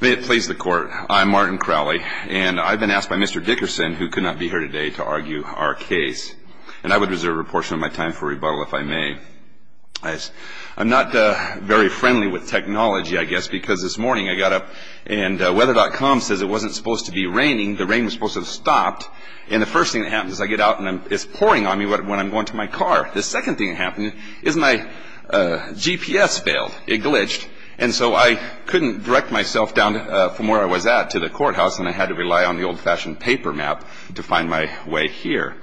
May it please the court, I'm Martin Crowley, and I've been asked by Mr. Dickerson, who could not be here today, to argue our case. And I would reserve a portion of my time for rebuttal if I may. I'm not very friendly with technology, I guess, because this morning I got up and weather.com says it wasn't supposed to be raining, the rain was supposed to have stopped, and the first thing that happens is I get out and it's pouring on me when I'm going to my car. The second thing that happened is my GPS failed. It glitched. And so I couldn't direct myself down from where I was at to the courthouse, and I had to rely on the old-fashioned paper map to find my way here.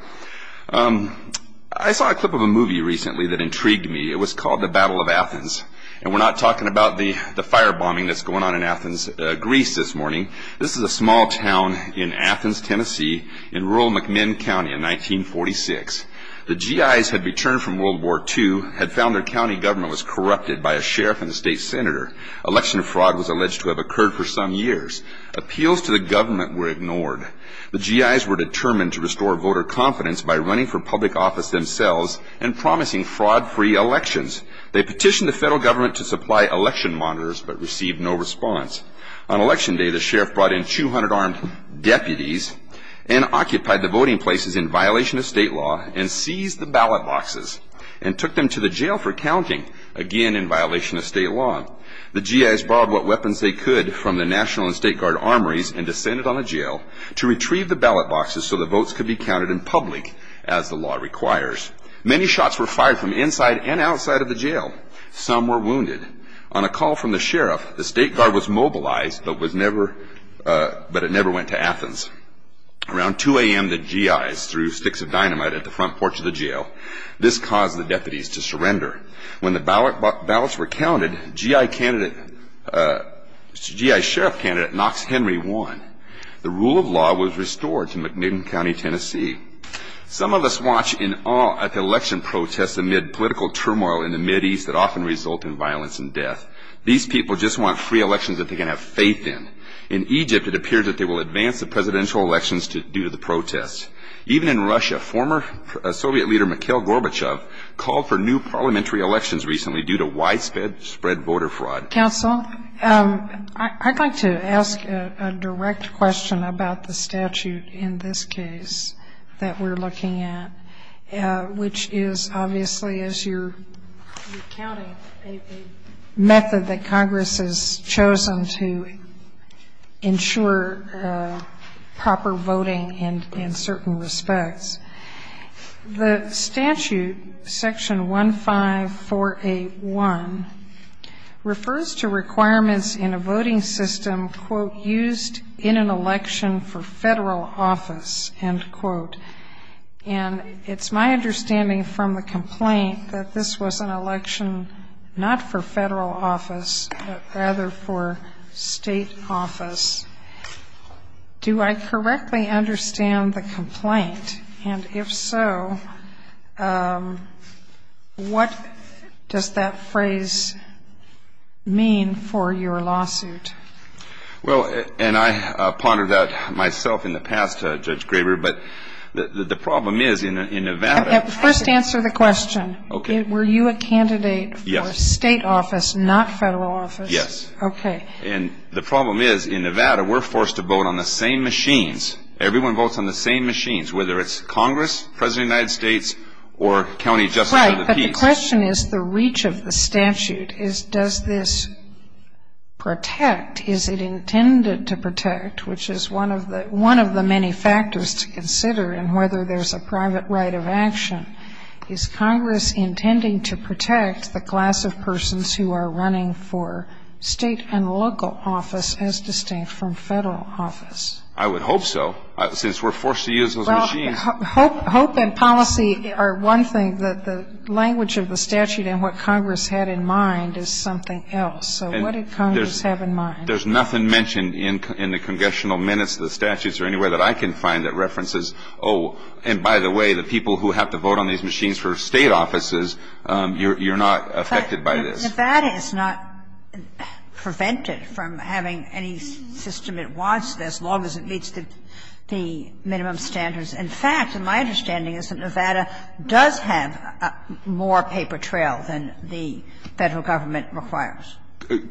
I saw a clip of a movie recently that intrigued me. It was called The Battle of Athens. And we're not talking about the firebombing that's going on in Athens, Greece, this morning. This is a small town in Athens, Tennessee, in rural McMinn County in 1946. The G.I.s had returned from World War II, had found their county government was corrupted by a sheriff and a state senator. Election fraud was alleged to have occurred for some years. Appeals to the government were ignored. The G.I.s were determined to restore voter confidence by running for public office themselves and promising fraud-free elections. They petitioned the federal government to supply election monitors but received no response. On election day, the sheriff brought in 200 armed deputies and occupied the voting places in violation of state law and seized the ballot boxes and took them to the jail for counting, again in violation of state law. The G.I.s borrowed what weapons they could from the National and State Guard armories and descended on the jail to retrieve the ballot boxes so the votes could be counted in public as the law requires. Many shots were fired from inside and outside of the jail. Some were wounded. On a call from the sheriff, the State Guard was mobilized but it never went to Athens. Around 2 a.m., the G.I.s threw sticks of dynamite at the front porch of the jail. This caused the deputies to surrender. When the ballots were counted, the G.I.s sheriff candidate Knox Henry won. The rule of law was restored to McMinn County, Tennessee. Some of us watch in awe at the election protests amid political turmoil in the Mideast that often result in violence and death. These people just want free elections that they can have faith in. In Egypt, it appears that they will advance the presidential elections due to the protests. Even in Russia, former Soviet leader Mikhail Gorbachev called for new parliamentary elections recently due to widespread voter fraud. Counsel, I'd like to ask a direct question about the statute in this case that we're looking at, which is obviously, as you're recounting, a method that Congress has chosen to ensure proper voting in certain respects. The statute, section 15481, refers to requirements in a voting system, quote, used in an election for federal office, end quote. And it's my understanding from the complaint that this was an election not for federal office but rather for state office. Do I correctly understand the complaint? And if so, what does that phrase mean for your lawsuit? Well, and I pondered that myself in the past, Judge Graber, but the problem is in Nevada. First answer the question. Okay. Were you a candidate for state office, not federal office? Yes. Okay. And the problem is in Nevada, we're forced to vote on the same machines. Everyone votes on the same machines, whether it's Congress, President of the United States, or County Justice of the Peace. Right, but the question is the reach of the statute is does this protect, is it intended to protect, which is one of the many factors to consider in whether there's a private right of action. Is Congress intending to protect the class of persons who are running for state and local office as distinct from federal office? I would hope so, since we're forced to use those machines. Well, hope and policy are one thing. The language of the statute and what Congress had in mind is something else. So what did Congress have in mind? There's nothing mentioned in the congressional minutes of the statutes or anywhere that I can find that references, oh, and by the way, the people who have to vote on these machines for state offices, you're not affected by this. But Nevada is not prevented from having any system it wants as long as it meets the minimum standards. In fact, my understanding is that Nevada does have more paper trail than the Federal Government requires.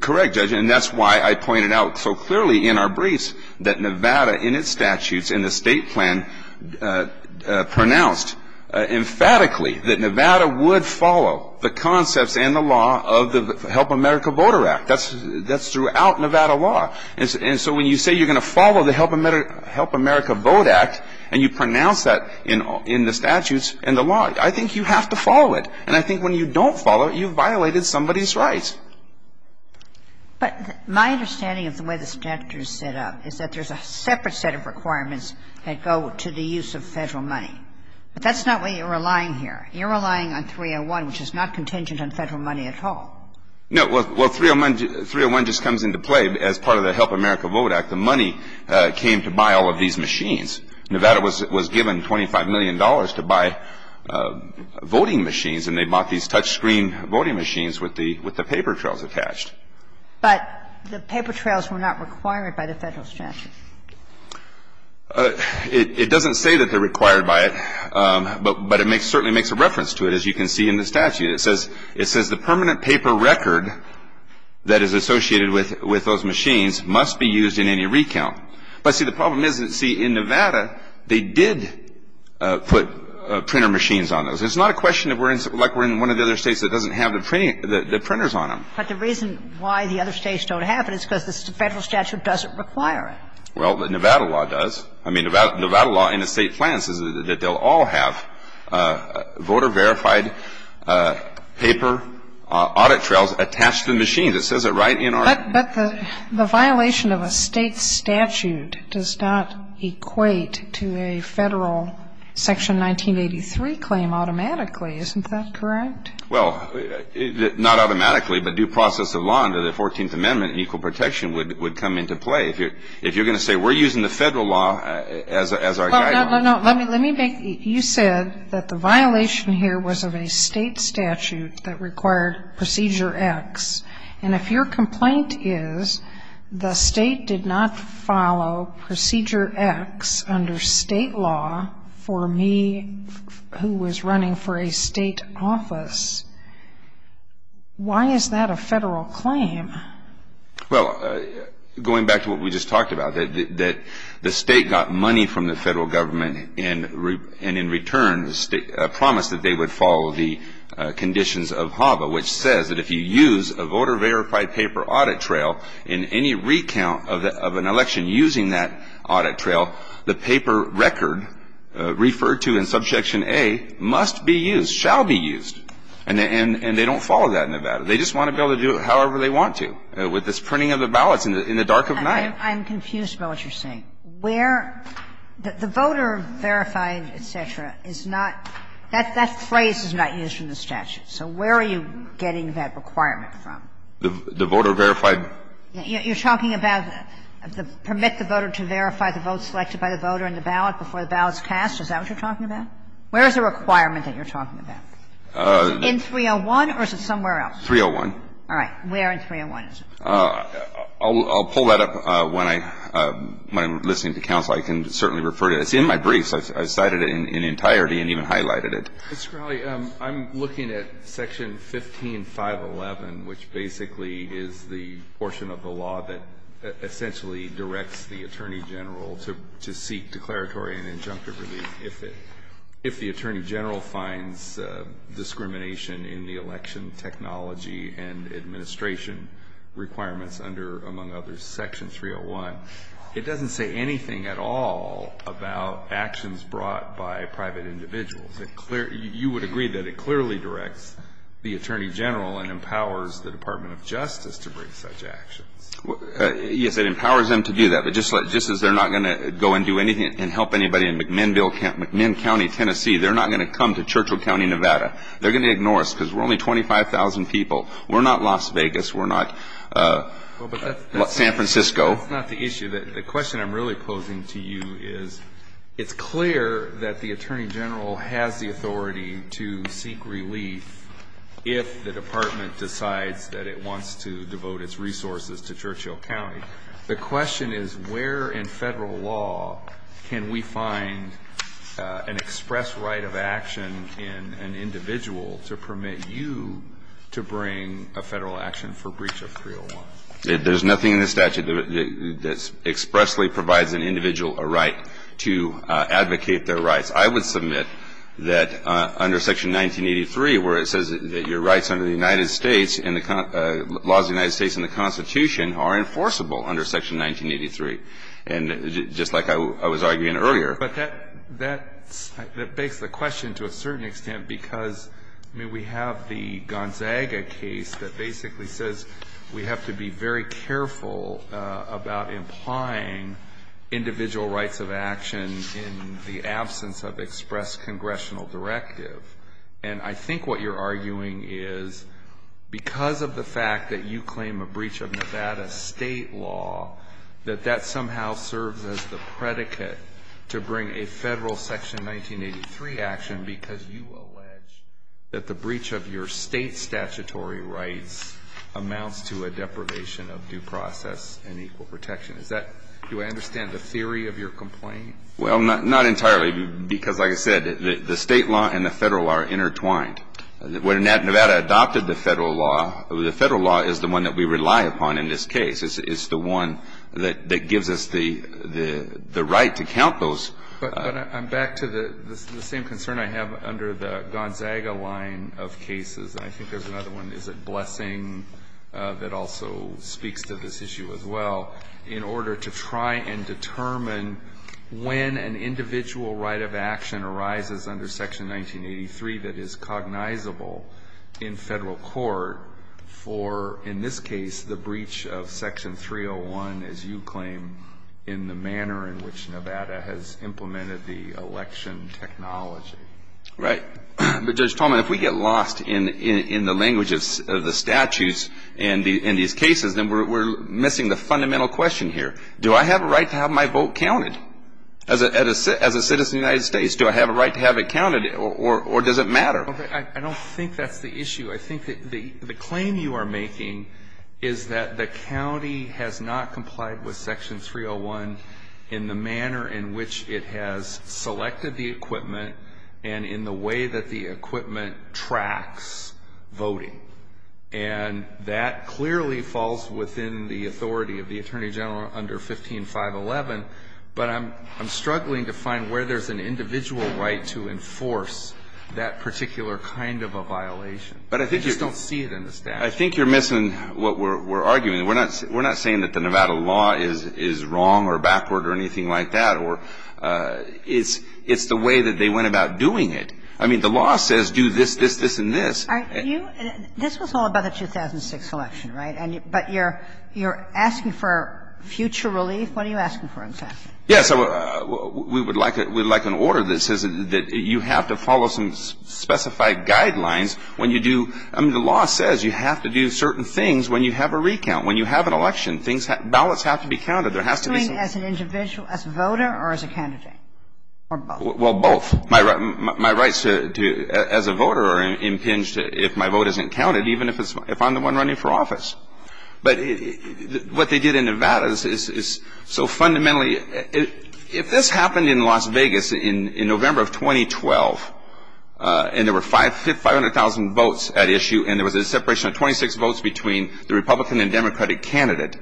Correct, Judge, and that's why I pointed out so clearly in our briefs that Nevada in its statutes and the state plan pronounced emphatically that Nevada would follow the concepts and the law of the Help America Voter Act. That's throughout Nevada law. And so when you say you're going to follow the Help America Vote Act and you pronounce that in the statutes and the law, I think you have to follow it. And I think when you don't follow it, you've violated somebody's rights. But my understanding of the way the statute is set up is that there's a separate set of requirements that go to the use of Federal money. But that's not why you're relying here. You're relying on 301, which is not contingent on Federal money at all. No, well, 301 just comes into play as part of the Help America Vote Act. The money came to buy all of these machines. Nevada was given $25 million to buy voting machines, and they bought these touchscreen voting machines with the paper trails attached. But the paper trails were not required by the Federal statute. It doesn't say that they're required by it, but it certainly makes a reference to it, as you can see in the statute. It says the permanent paper record that is associated with those machines must be used in any recount. But, see, the problem is, see, in Nevada, they did put printer machines on those. It's not a question of, like we're in one of the other states that doesn't have the printers on them. But the reason why the other states don't have it is because the Federal statute doesn't require it. Well, Nevada law does. I mean, Nevada law in a State plan says that they'll all have voter-verified paper audit trails attached to the machines. It says it right in our statute. But the violation of a State statute does not equate to a Federal Section 1983 claim automatically. Isn't that correct? Well, not automatically, but due process of law under the Fourteenth Amendment and equal protection would come into play. If you're going to say we're using the Federal law as our guideline. No, no, no. Let me make you said that the violation here was of a State statute that required Procedure X. And if your complaint is the State did not follow Procedure X under State law for me, who was running for a State office, why is that a Federal claim? Well, going back to what we just talked about, that the State got money from the Federal government and in return promised that they would follow the conditions of HAVA, which says that if you use a voter-verified paper audit trail in any recount of an election using that audit trail, the paper record referred to in Subsection A must be used, shall be used. And they don't follow that in Nevada. They just want to be able to do it however they want to with this printing of the ballots in the dark of night. I'm confused about what you're saying. Where the voter-verified, et cetera, is not, that phrase is not used in the statute. So where are you getting that requirement from? The voter-verified. You're talking about the permit the voter to verify the vote selected by the voter in the ballot before the ballot is cast? Is that what you're talking about? Where is the requirement that you're talking about? In 301 or is it somewhere else? 301. All right. Where in 301 is it? I'll pull that up when I'm listening to counsel. I can certainly refer to it. It's in my briefs. I cited it in entirety and even highlighted it. Mr. Crowley, I'm looking at Section 15511, which basically is the portion of the law that essentially directs the Attorney General to seek declaratory and injunctive relief if the Attorney General finds discrimination in the election technology and administration requirements under, among others, Section 301. It doesn't say anything at all about actions brought by private individuals. You would agree that it clearly directs the Attorney General and empowers the Department of Justice to bring such actions. Yes, it empowers them to do that. But just as they're not going to go and do anything and help anybody in McMinn County, Tennessee, they're not going to come to Churchill County, Nevada. They're going to ignore us because we're only 25,000 people. We're not Las Vegas. We're not San Francisco. That's not the issue. The question I'm really posing to you is it's clear that the Attorney General has the authority to seek relief if the Department decides that it wants to devote its resources to Churchill County. The question is where in Federal law can we find an express right of action in an individual to permit you to bring a Federal action for breach of 301? There's nothing in the statute that expressly provides an individual a right to advocate their rights. I would submit that under Section 1983, where it says that your rights under the United States and the laws of the United States and the Constitution are enforceable under Section 1983. And just like I was arguing earlier. But that begs the question to a certain extent because, I mean, we have the Gonzaga case that basically says we have to be very careful about implying individual rights of action in the absence of express congressional directive. And I think what you're arguing is because of the fact that you claim a breach of Nevada state law, that that somehow serves as the predicate to bring a Federal Section 1983 action because you allege that the breach of your state statutory rights amounts to a deprivation of due process and equal protection. Is that do I understand the theory of your complaint? Well, not entirely, because like I said, the state law and the Federal law are intertwined. When Nevada adopted the Federal law, the Federal law is the one that we rely upon in this case. It's the one that gives us the right to count those. But I'm back to the same concern I have under the Gonzaga line of cases. And I think there's another one, is it Blessing, that also speaks to this issue as well, in order to try and determine when an individual right of action arises under Section 1983 that is cognizable in Federal court for, in this case, the breach of Section 301, as you claim, in the manner in which Nevada has implemented the election technology. Right. But, Judge Tallman, if we get lost in the language of the statutes in these cases, then we're missing the fundamental question here. Do I have a right to have my vote counted? As a citizen of the United States, do I have a right to have it counted, or does it matter? I don't think that's the issue. I think that the claim you are making is that the county has not complied with Section 301 in the manner in which it has selected the equipment and in the way that the equipment tracks voting. And that clearly falls within the authority of the Attorney General under 15511. But I'm struggling to find where there's an individual right to enforce that particular kind of a violation. I just don't see it in the statute. I think you're missing what we're arguing. We're not saying that the Nevada law is wrong or backward or anything like that. It's the way that they went about doing it. I mean, the law says do this, this, this, and this. This was all about the 2006 election, right? But you're asking for future relief? What are you asking for, in fact? Yes. We would like an order that says that you have to follow some specified guidelines when you do – I mean, the law says you have to do certain things when you have a recount, when you have an election. Ballots have to be counted. There has to be some – Between as an individual, as a voter, or as a candidate, or both? Well, both. My rights as a voter are impinged if my vote isn't counted, even if I'm the one running for office. But what they did in Nevada is so fundamentally – if this happened in Las Vegas in November of 2012 and there were 500,000 votes at issue and there was a separation of 26 votes between the Republican and Democratic candidate,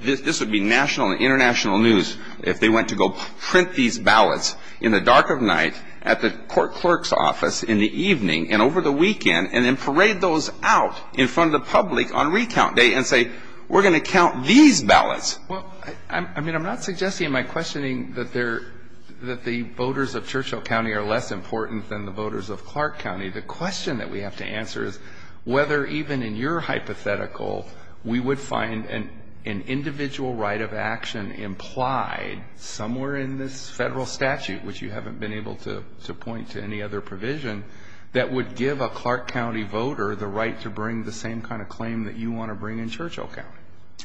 this would be national and international news if they went to go print these ballots in the dark of night at the court clerk's office in the evening and over the weekend and then parade those out in front of the public on recount day and say, we're going to count these ballots. Well, I mean, I'm not suggesting in my questioning that the voters of Churchill County are less important than the voters of Clark County. The question that we have to answer is whether even in your hypothetical we would find an individual right of action implied somewhere in this federal statute, which you haven't been able to point to any other provision, that would give a Clark County voter the right to bring the same kind of claim that you want to bring in Churchill County.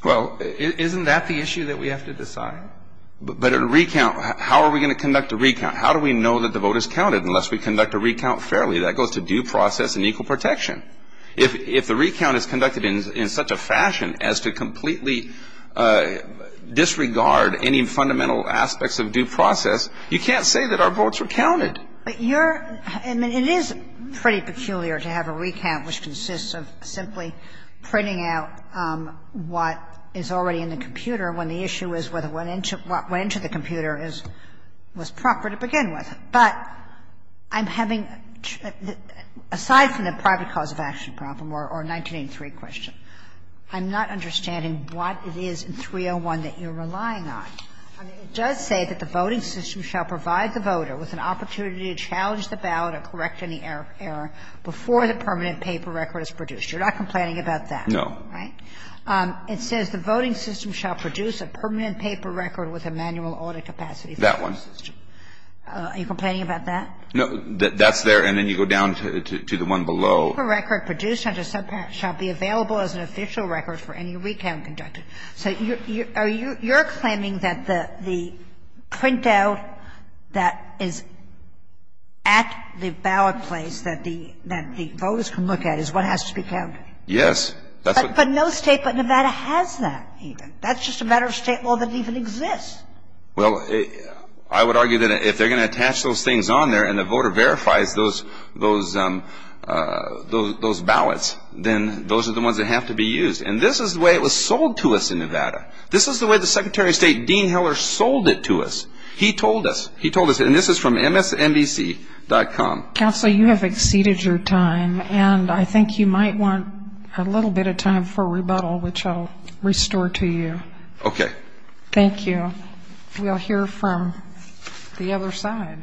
Well, isn't that the issue that we have to decide? But a recount – how are we going to conduct a recount? How do we know that the vote is counted unless we conduct a recount fairly? That goes to due process and equal protection. If the recount is conducted in such a fashion as to completely disregard any fundamental aspects of due process, you can't say that our votes were counted. But your – I mean, it is pretty peculiar to have a recount which consists of simply printing out what is already in the computer when the issue is whether what went into the computer was proper to begin with. But I'm having – aside from the private cause of action problem or 1983 question, I'm not understanding what it is in 301 that you're relying on. I mean, it does say that the voting system shall provide the voter with an opportunity to challenge the ballot or correct any error before the permanent paper record is produced. You're not complaining about that, right? No. It says the voting system shall produce a permanent paper record with a manual audit capacity for the voting system. Are you complaining about that? No. That's there, and then you go down to the one below. The paper record produced under subpart shall be available as an official record for any recount conducted. So you're claiming that the printout that is at the ballot place that the voters can look at is what has to be counted? Yes. But no State but Nevada has that. That's just a matter of State law that even exists. Well, I would argue that if they're going to attach those things on there and the voter verifies those ballots, then those are the ones that have to be used. And this is the way it was sold to us in Nevada. This is the way the Secretary of State, Dean Heller, sold it to us. He told us. He told us. And this is from MSNBC.com. Counselor, you have exceeded your time, and I think you might want a little bit of time for rebuttal, which I'll restore to you. Okay. Thank you. We'll hear from the other side.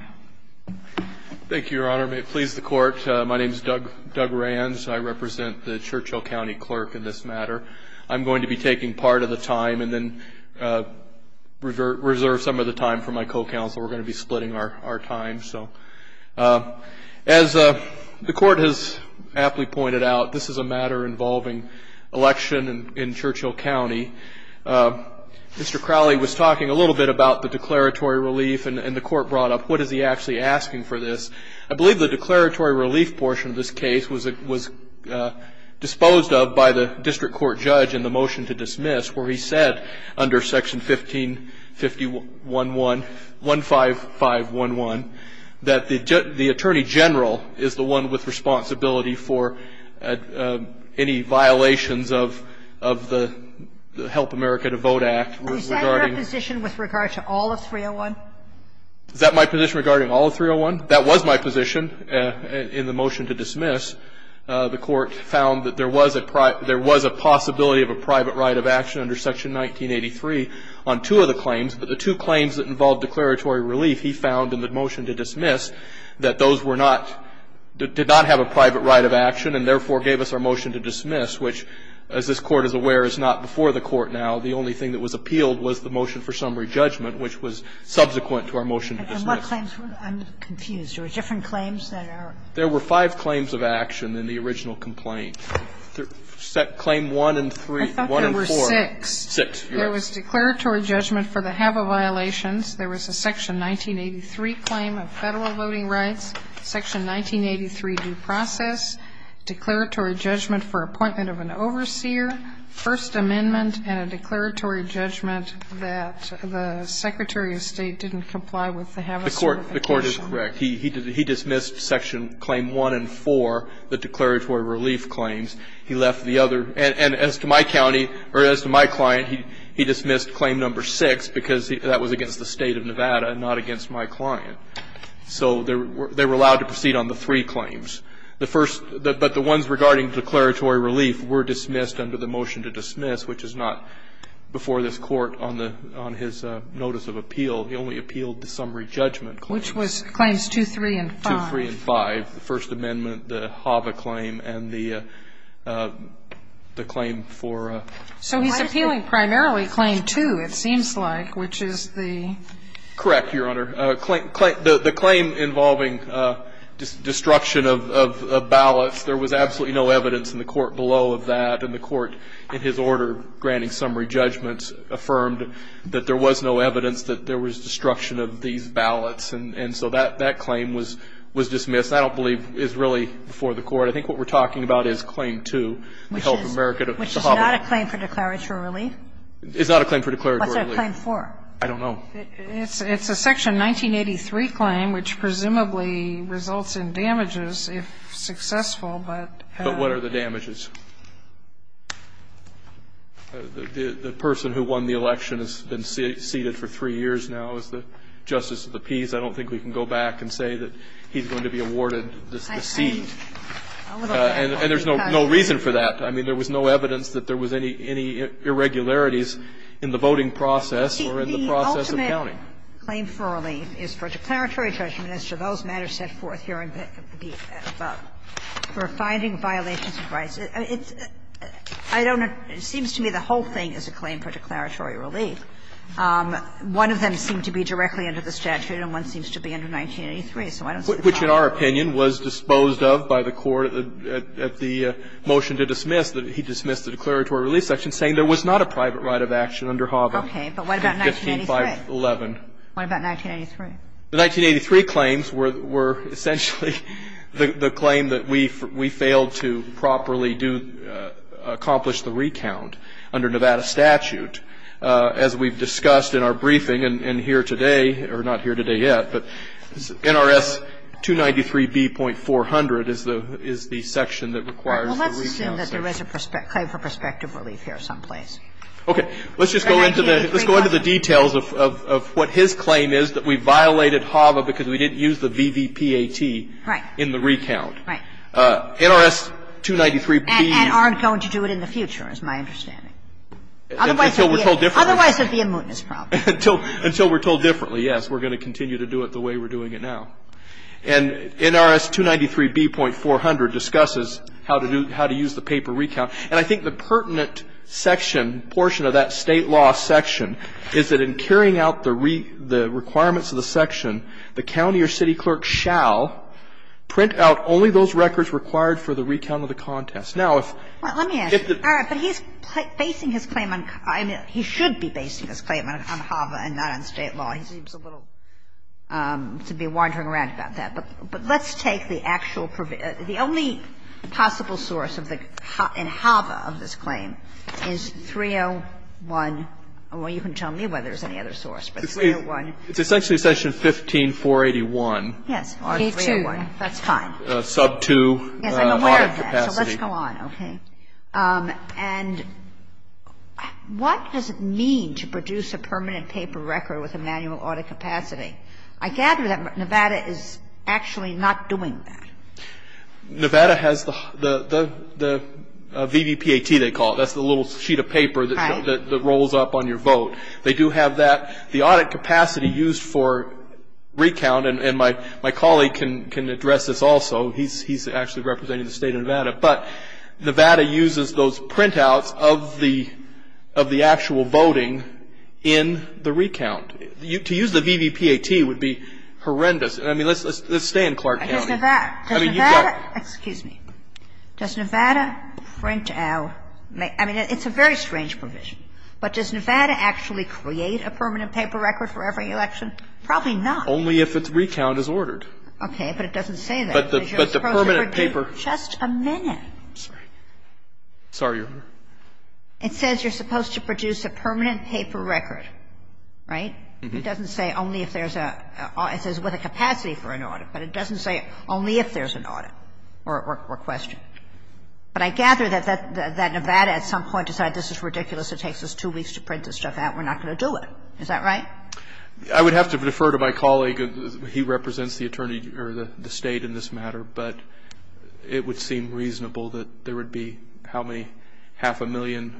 Thank you, Your Honor. May it please the Court. My name is Doug Rands. I represent the Churchill County clerk in this matter. I'm going to be taking part of the time and then reserve some of the time for my co-counsel. We're going to be splitting our time. As the Court has aptly pointed out, this is a matter involving election in Churchill County. Mr. Crowley was talking a little bit about the declaratory relief, and the Court brought up, what is he actually asking for this? I believe the declaratory relief portion of this case was disposed of by the district court judge in the motion to dismiss, where he said, under Section 15511, that the Attorney General is the one with responsibility for any violations of the Help America to Vote Act. Is that your position with regard to all of 301? Is that my position regarding all of 301? That was my position in the motion to dismiss. The Court found that there was a possibility of a private right of action under Section 1983 on two of the claims, but the two claims that involved declaratory relief, he found in the motion to dismiss, that those were not, did not have a private right of action and therefore gave us our motion to dismiss, which, as this Court is aware, is not before the Court now. The only thing that was appealed was the motion for summary judgment, which was subsequent to our motion to dismiss. And what claims? I'm confused. There were different claims that are? There were five claims of action in the original complaint. Claim 1 and 3, 1 and 4. I thought there were six. Six, yes. There was declaratory judgment for the HABA violations. There was a Section 1983 claim of Federal voting rights, Section 1983 due process, declaratory judgment for appointment of an overseer, First Amendment, and a declaratory judgment that the Secretary of State didn't comply with the HABA certification. The Court is correct. He dismissed Section Claim 1 and 4, the declaratory relief claims. He left the other. And as to my county or as to my client, he dismissed Claim No. 6 because that was against the State of Nevada and not against my client. So they were allowed to proceed on the three claims. The first, but the ones regarding declaratory relief were dismissed under the motion to dismiss, which is not before this Court on the, on his notice of appeal. He only appealed the summary judgment claims. Which was Claims 2, 3, and 5. 2, 3, and 5, the First Amendment, the HABA claim, and the claim for. So he's appealing primarily Claim 2, it seems like, which is the. Correct, Your Honor. The claim involving destruction of ballots, there was absolutely no evidence in the Court below of that. And the Court, in his order granting summary judgments, affirmed that there was no evidence that there was destruction of these ballots. And so that claim was dismissed. I don't believe is really before the Court. It's not a claim for declaratory relief? It's not a claim for declaratory relief. What's it a claim for? I don't know. It's a Section 1983 claim, which presumably results in damages if successful, but. But what are the damages? The person who won the election has been seated for three years now as the Justice of the Peace. I don't think we can go back and say that he's going to be awarded the seat. And there's no reason for that. I mean, there was no evidence that there was any irregularities in the voting process or in the process of counting. The ultimate claim for relief is for declaratory judgment as to those matters set forth here in the above, for finding violations of rights. I don't know. It seems to me the whole thing is a claim for declaratory relief. One of them seemed to be directly under the statute, and one seems to be under 1983. So I don't see the problem. The other is that it's not a private right of action under HOVA, which in our opinion was disposed of by the Court at the motion to dismiss, that he dismissed the declaratory relief section saying there was not a private right of action under HOVA. Okay. But what about 1983? 15-511. What about 1983? The 1983 claims were essentially the claim that we failed to properly do accomplish the recount under Nevada statute. As we've discussed in our briefing and here today, or not here today yet, but NRS 293b.400 is the section that requires the recount section. Well, let's assume that there is a claim for prospective relief here someplace. Okay. Let's just go into the details of what his claim is, that we violated HOVA because we didn't use the VVPAT in the recount. Right. NRS 293b. And aren't going to do it in the future is my understanding. Until we're told differently. Otherwise it would be a mootness problem. Until we're told differently, yes. We're going to continue to do it the way we're doing it now. And NRS 293b.400 discusses how to use the paper recount. And I think the pertinent section, portion of that State law section, is that in carrying out the requirements of the section, the county or city clerk shall print out only those records required for the recount of the contest. Now, if if the All right. But he's basing his claim on, I mean, he should be basing his claim on HOVA and not on State law. He seems a little, to be wandering around about that. But let's take the actual, the only possible source of the, in HOVA of this claim is 301. Well, you can tell me whether there's any other source, but 301. It's essentially section 15481. Yes. Or 301. That's fine. Sub 2. Yes, I'm aware of that. So let's go on, okay? And what does it mean to produce a permanent paper record with a manual audit capacity? I gather that Nevada is actually not doing that. Nevada has the VVPAT, they call it. That's the little sheet of paper that rolls up on your vote. They do have that. The audit capacity used for recount, and my colleague can address this also. He's actually representing the State of Nevada. But Nevada uses those printouts of the actual voting in the recount. To use the VVPAT would be horrendous. I mean, let's stay in Clark County. I guess Nevada, does Nevada, excuse me. Does Nevada print out, I mean, it's a very strange provision. But does Nevada actually create a permanent paper record for every election? Probably not. Only if its recount is ordered. Okay. But it doesn't say that. But the permanent paper. Just a minute. I'm sorry. Sorry, Your Honor. It says you're supposed to produce a permanent paper record, right? It doesn't say only if there's a, it says with a capacity for an audit, but it doesn't say only if there's an audit or question. But I gather that Nevada at some point decided this is ridiculous, it takes us two weeks to print this stuff out, we're not going to do it. Is that right? I would have to defer to my colleague. He represents the attorney, or the State in this matter. But it would seem reasonable that there would be, how many, half a million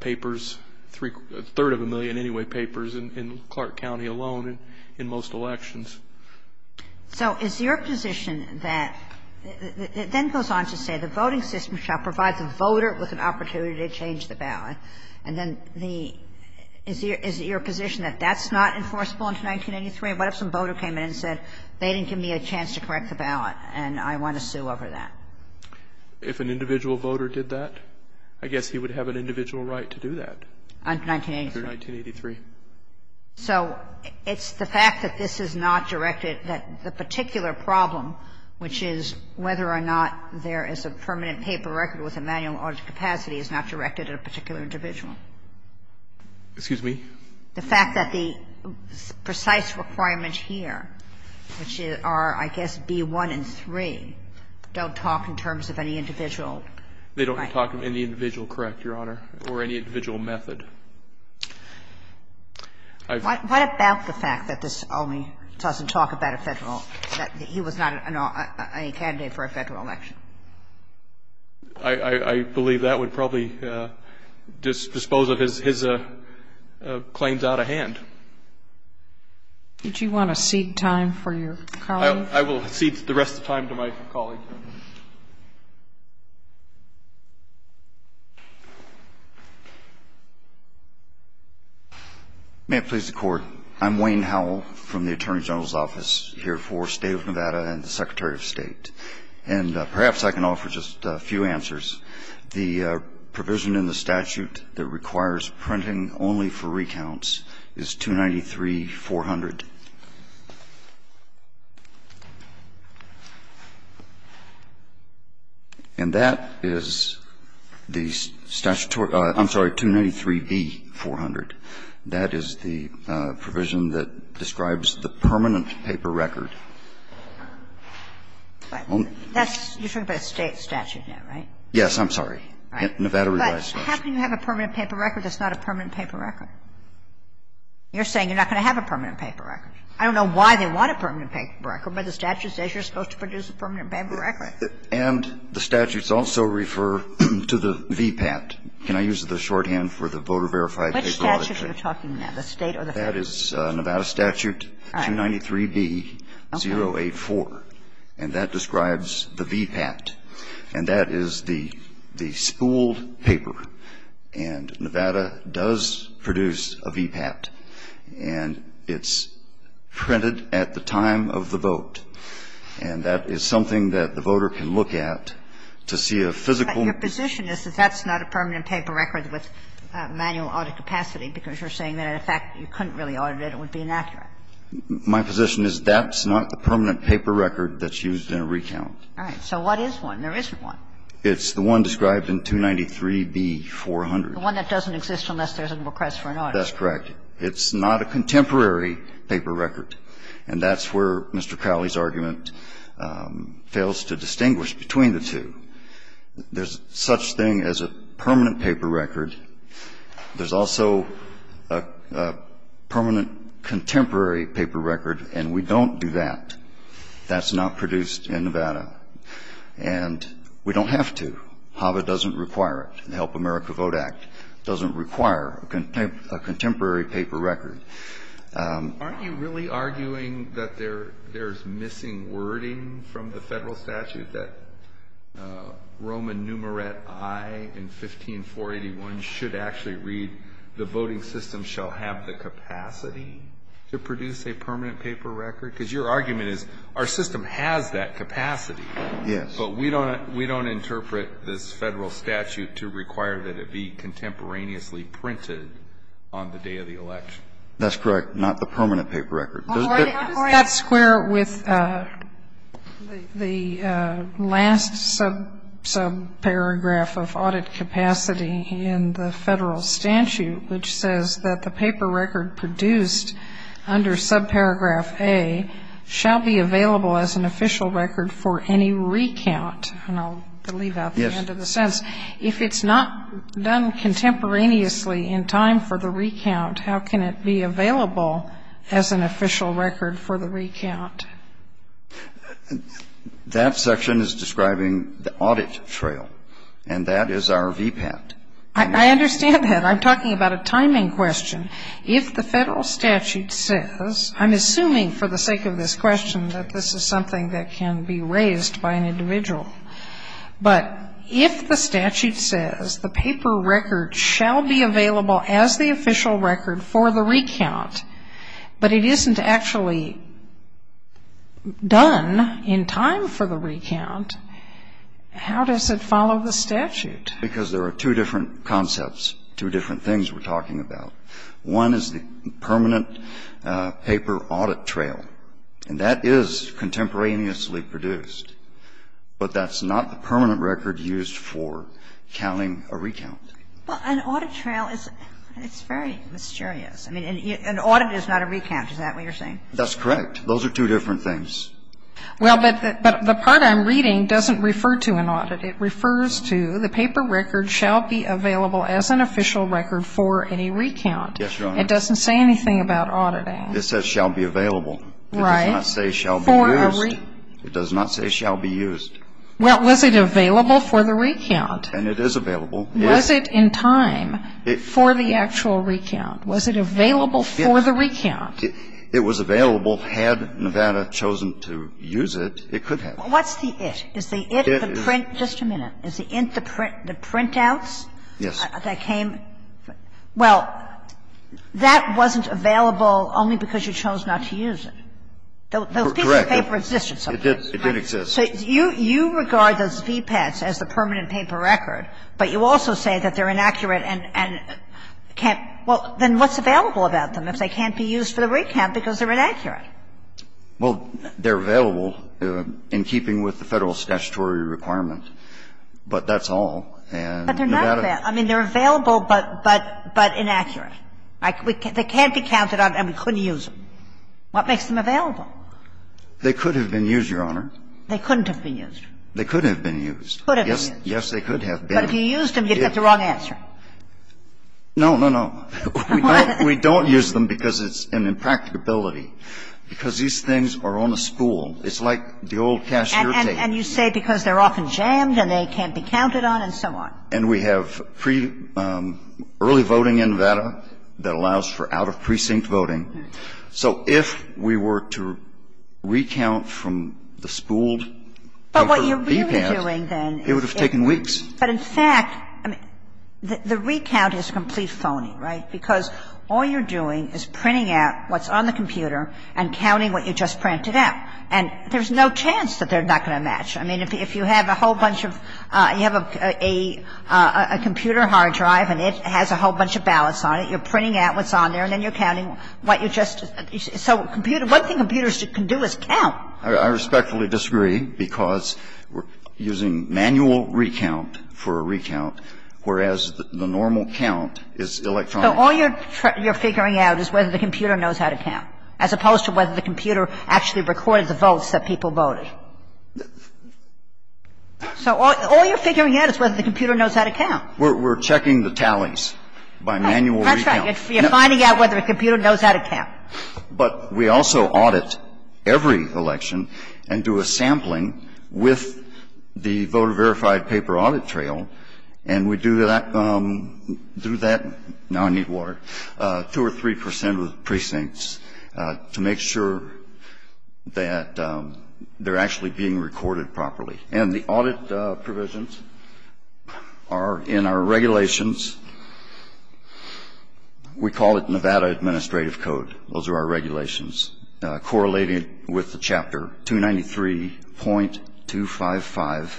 papers, a third of a million anyway papers in Clark County alone in most elections. So is your position that, it then goes on to say the voting system shall provide the voter with an opportunity to change the ballot. And then the, is your position that that's not enforceable until 1983? What if some voter came in and said they didn't give me a chance to correct the ballot and I want to sue over that? If an individual voter did that, I guess he would have an individual right to do that. Until 1983. Until 1983. So it's the fact that this is not directed, that the particular problem, which is whether or not there is a permanent paper record with a manual audit capacity is not directed at a particular individual? Excuse me? The fact that the precise requirements here, which are, I guess, B-1 and 3, don't talk in terms of any individual right. They don't talk of any individual, correct, Your Honor, or any individual method. What about the fact that this only doesn't talk about a Federal, that he was not a candidate for a Federal election? I believe that would probably dispose of his claims out of hand. Would you want to cede time for your colleague? I will cede the rest of the time to my colleague. May it please the Court. I'm Wayne Howell from the Attorney General's Office here for the State of Nevada and the Secretary of State. And perhaps I can offer just a few answers. The provision in the statute that requires printing only for recounts is 293-400. And that is the statutory – I'm sorry, 293B-400. That is the provision that describes the permanent paper record. That's – you're talking about a State statute now, right? Yes, I'm sorry. Right. But how can you have a permanent paper record that's not a permanent paper record? You're saying you're not going to have a permanent paper record. I don't know why they want a permanent paper record, but the statute says you're supposed to produce a permanent paper record. And the statutes also refer to the VPAT. Can I use the shorthand for the Voter Verified Paper Authority? Which statute are you talking about, the State or the Federal? That is Nevada Statute 293B-084. And that describes the VPAT. And that is the spooled paper. And Nevada does produce a VPAT. And it's printed at the time of the vote. And that is something that the voter can look at to see a physical – But your position is that that's not a permanent paper record with manual audit capacity because you're saying that, in fact, you couldn't really audit it. It would be inaccurate. My position is that's not the permanent paper record that's used in a recount. All right. So what is one? There isn't one. It's the one described in 293B-400. The one that doesn't exist unless there's a request for an audit. That's correct. It's not a contemporary paper record. And that's where Mr. Cowley's argument fails to distinguish between the two. There's such thing as a permanent paper record. There's also a permanent contemporary paper record. And we don't do that. That's not produced in Nevada. And we don't have to. HAVA doesn't require it. The Help America Vote Act doesn't require a contemporary paper record. Aren't you really arguing that there's missing wording from the Federal statute that Roman numeret I in 15481 should actually read, the voting system shall have the capacity to produce a permanent paper record? Because your argument is our system has that capacity. Yes. But we don't interpret this Federal statute to require that it be contemporaneously printed on the day of the election. That's correct. Not the permanent paper record. How does that square with the last subparagraph of audit capacity in the Federal statute, which says that the paper record produced under subparagraph A shall be available as an official record for any recount? And I'll leave out the end of the sentence. Yes. If it's not done contemporaneously in time for the recount, how can it be available as an official record for the recount? That section is describing the audit trail. And that is our VPAT. I understand that. I'm talking about a timing question. If the Federal statute says, I'm assuming for the sake of this question that this is something that can be raised by an individual, but if the statute says the paper record shall be available as the official record for the recount, but it isn't actually done in time for the recount, how does it follow the statute? Because there are two different concepts, two different things we're talking about. One is the permanent paper audit trail. And that is contemporaneously produced. But that's not the permanent record used for counting a recount. But an audit trail is, it's very mysterious. I mean, an audit is not a recount. Is that what you're saying? That's correct. Those are two different things. Well, but the part I'm reading doesn't refer to an audit. It refers to the paper record shall be available as an official record for any recount. Yes, Your Honor. It doesn't say anything about audit ads. It says shall be available. Right. It does not say shall be used. It does not say shall be used. Well, was it available for the recount? And it is available. Was it in time for the actual recount? Was it available for the recount? It was available. Had Nevada chosen to use it, it could have. What's the it? Is the it the print? Just a minute. Is the it the printouts that came? Yes. Well, that wasn't available only because you chose not to use it. Correct. It didn't exist. It didn't exist. So you regard those VPATs as the permanent paper record, but you also say that they're inaccurate and can't. Well, then what's available about them if they can't be used for the recount because they're inaccurate? Well, they're available in keeping with the Federal statutory requirement, but that's all. And Nevada. But they're not available. I mean, they're available, but inaccurate. They can't be counted on and we couldn't use them. What makes them available? They could have been used, Your Honor. They couldn't have been used. They could have been used. Could have been used. Yes, they could have been. But if you used them, you'd get the wrong answer. No, no, no. We don't use them because it's an impracticability. Because these things are on a spool. It's like the old cashier tape. And you say because they're often jammed and they can't be counted on and so on. And we have early voting in Nevada that allows for out-of-precinct voting. So if we were to recount from the spooled paper P-PAM, it would have taken weeks. But what you're really doing then is the recount is complete phony, right? Because all you're doing is printing out what's on the computer and counting what you just printed out. And there's no chance that they're not going to match. I mean, if you have a whole bunch of you have a computer hard drive and it has a whole bunch of records on there and then you're counting what you just. So what the computers can do is count. I respectfully disagree because we're using manual recount for a recount, whereas the normal count is electronic. So all you're figuring out is whether the computer knows how to count, as opposed to whether the computer actually recorded the votes that people voted. So all you're figuring out is whether the computer knows how to count. We're checking the tallies by manual recount. You're finding out whether the computer knows how to count. But we also audit every election and do a sampling with the voter-verified paper audit trail. And we do that through that, now I need water, 2 or 3 percent of the precincts to make sure that they're actually being recorded properly. And the audit provisions are in our regulations. We call it Nevada Administrative Code. Those are our regulations correlated with the Chapter 293.255.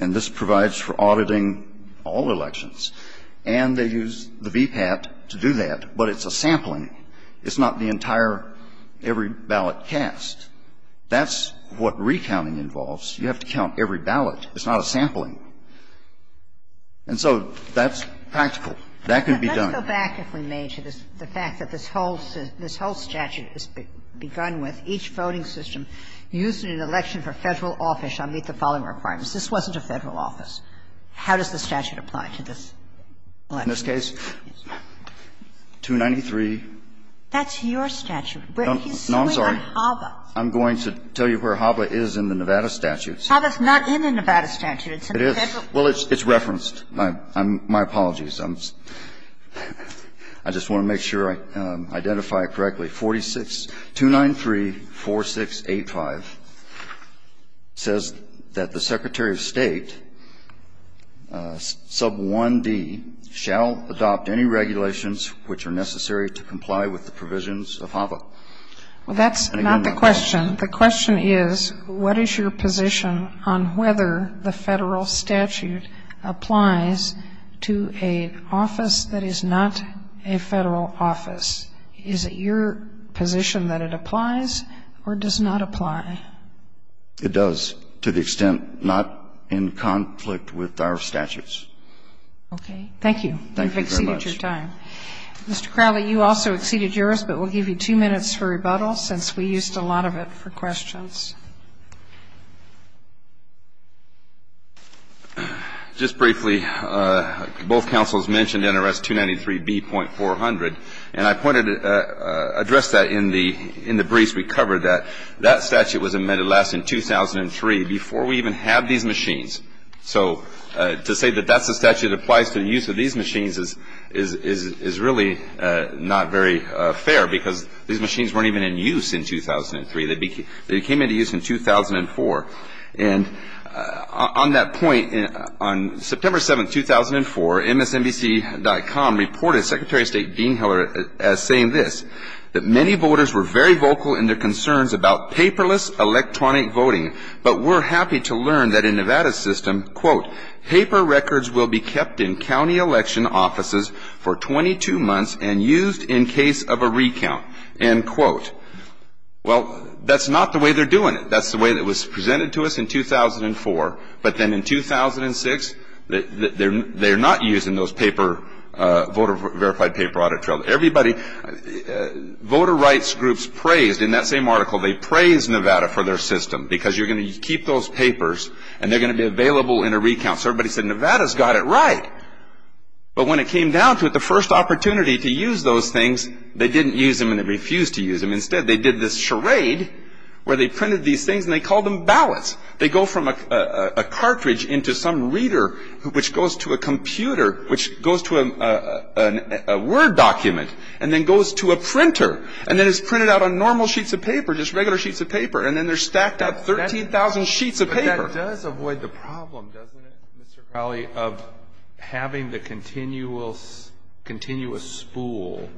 And this provides for auditing all elections. And they use the VPAT to do that, but it's a sampling. It's not the entire, every ballot cast. That's what recounting involves. You have to count every ballot. It's not a sampling. And so that's practical. That can be done. Kagan. But let's go back, if we may, to the fact that this whole statute is begun with each voting system using an election for Federal office shall meet the following requirements. This wasn't a Federal office. How does the statute apply to this election? In this case, 293. That's your statute. No, I'm sorry. He's suing on HABA. I'm going to tell you where HABA is in the Nevada statute. HABA's not in the Nevada statute. It's in the Federal. Well, it's referenced. My apologies. I just want to make sure I identify it correctly. 46, 293.4685 says that the Secretary of State, sub 1D, shall adopt any regulations which are necessary to comply with the provisions of HABA. And I'm not going to quote. Well, that's not the question. The question is what is your position on whether the Federal statute applies to an office that is not a Federal office? Is it your position that it applies or does not apply? It does, to the extent not in conflict with our statutes. Okay. Thank you. Thank you very much. You've exceeded your time. Mr. Crowley, you also exceeded yours, but we'll give you two minutes for rebuttal since we used a lot of it for questions. Just briefly, both counsels mentioned NRS 293B.400. And I pointed to address that in the briefs we covered, that that statute was amended last in 2003 before we even had these machines. So to say that that's the statute that applies to the use of these machines is really not very fair because these machines weren't even in use in 2003. They came into use in 2004. And on that point, on September 7, 2004, MSNBC.com reported Secretary of State Dean Heller as saying this, that many voters were very vocal in their concerns about paperless electronic voting. But we're happy to learn that in Nevada's system, quote, paper records will be kept in county election offices for 22 months and used in case of a recount, end quote. Well, that's not the way they're doing it. That's the way that was presented to us in 2004. But then in 2006, they're not using those paper, voter verified paper audit trials. Voter rights groups praised, in that same article, they praised Nevada for their system because you're going to keep those papers and they're going to be available in a recount. So everybody said Nevada's got it right. But when it came down to it, the first opportunity to use those things, they didn't use them and they refused to use them. Instead, they did this charade where they printed these things and they called them ballots. They go from a cartridge into some reader, which goes to a computer, which goes to a Word document, and then goes to a printer. And then it's printed out on normal sheets of paper, just regular sheets of paper. And then they're stacked out 13,000 sheets of paper. But that does avoid the problem, doesn't it, Mr. Crowley, of having the continuous spool.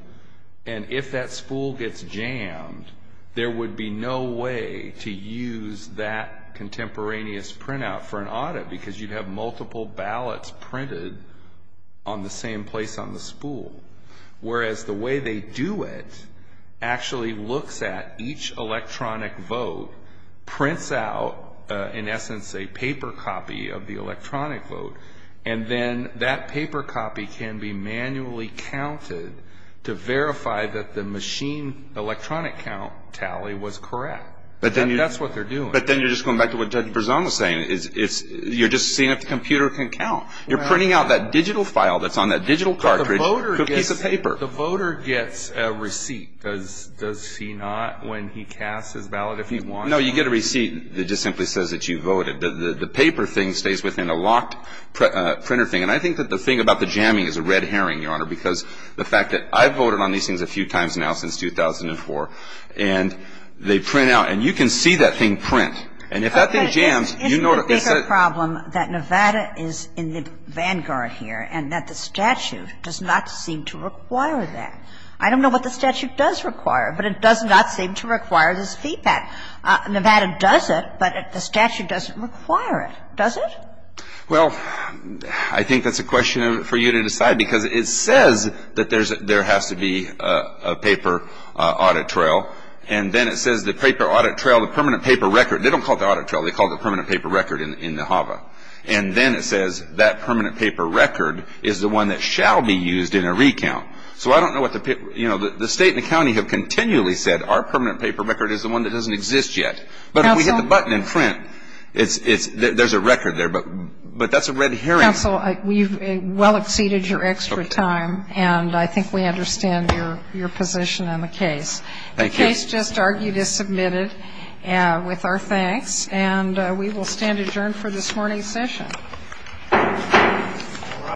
And if that spool gets jammed, there would be no way to use that contemporaneous printout for an audit because you'd have multiple ballots printed on the same place on the spool. Whereas the way they do it actually looks at each electronic vote, prints out, in essence, a paper copy of the electronic vote. And then that paper copy can be manually counted to verify that the machine electronic count tally was correct. That's what they're doing. But then you're just going back to what Judge Berzon was saying. You're just seeing if the computer can count. You're printing out that digital file that's on that digital cartridge, a piece of paper. But the voter gets a receipt. Does he not when he casts his ballot if he wants to? No, you get a receipt that just simply says that you voted. The paper thing stays within a locked printer thing. And I think that the thing about the jamming is a red herring, Your Honor, because the fact that I've voted on these things a few times now since 2004, and they print out. And you can see that thing print. And if that thing jams, you know what it is. But isn't the bigger problem that Nevada is in the vanguard here and that the statute does not seem to require that? I don't know what the statute does require, but it does not seem to require this feedback. Nevada does it, but the statute doesn't require it, does it? Well, I think that's a question for you to decide because it says that there has to be a paper audit trail. And then it says the paper audit trail, the permanent paper record. They don't call it the audit trail. They call it the permanent paper record in the HAVA. And then it says that permanent paper record is the one that shall be used in a recount. So I don't know what the state and the county have continually said our permanent paper record is the one that doesn't exist yet. But if we hit the button in print, there's a record there. But that's a red herring. Counsel, we've well exceeded your extra time, and I think we understand your position on the case. The case just argued is submitted with our thanks. And we will stand adjourned for this morning's session.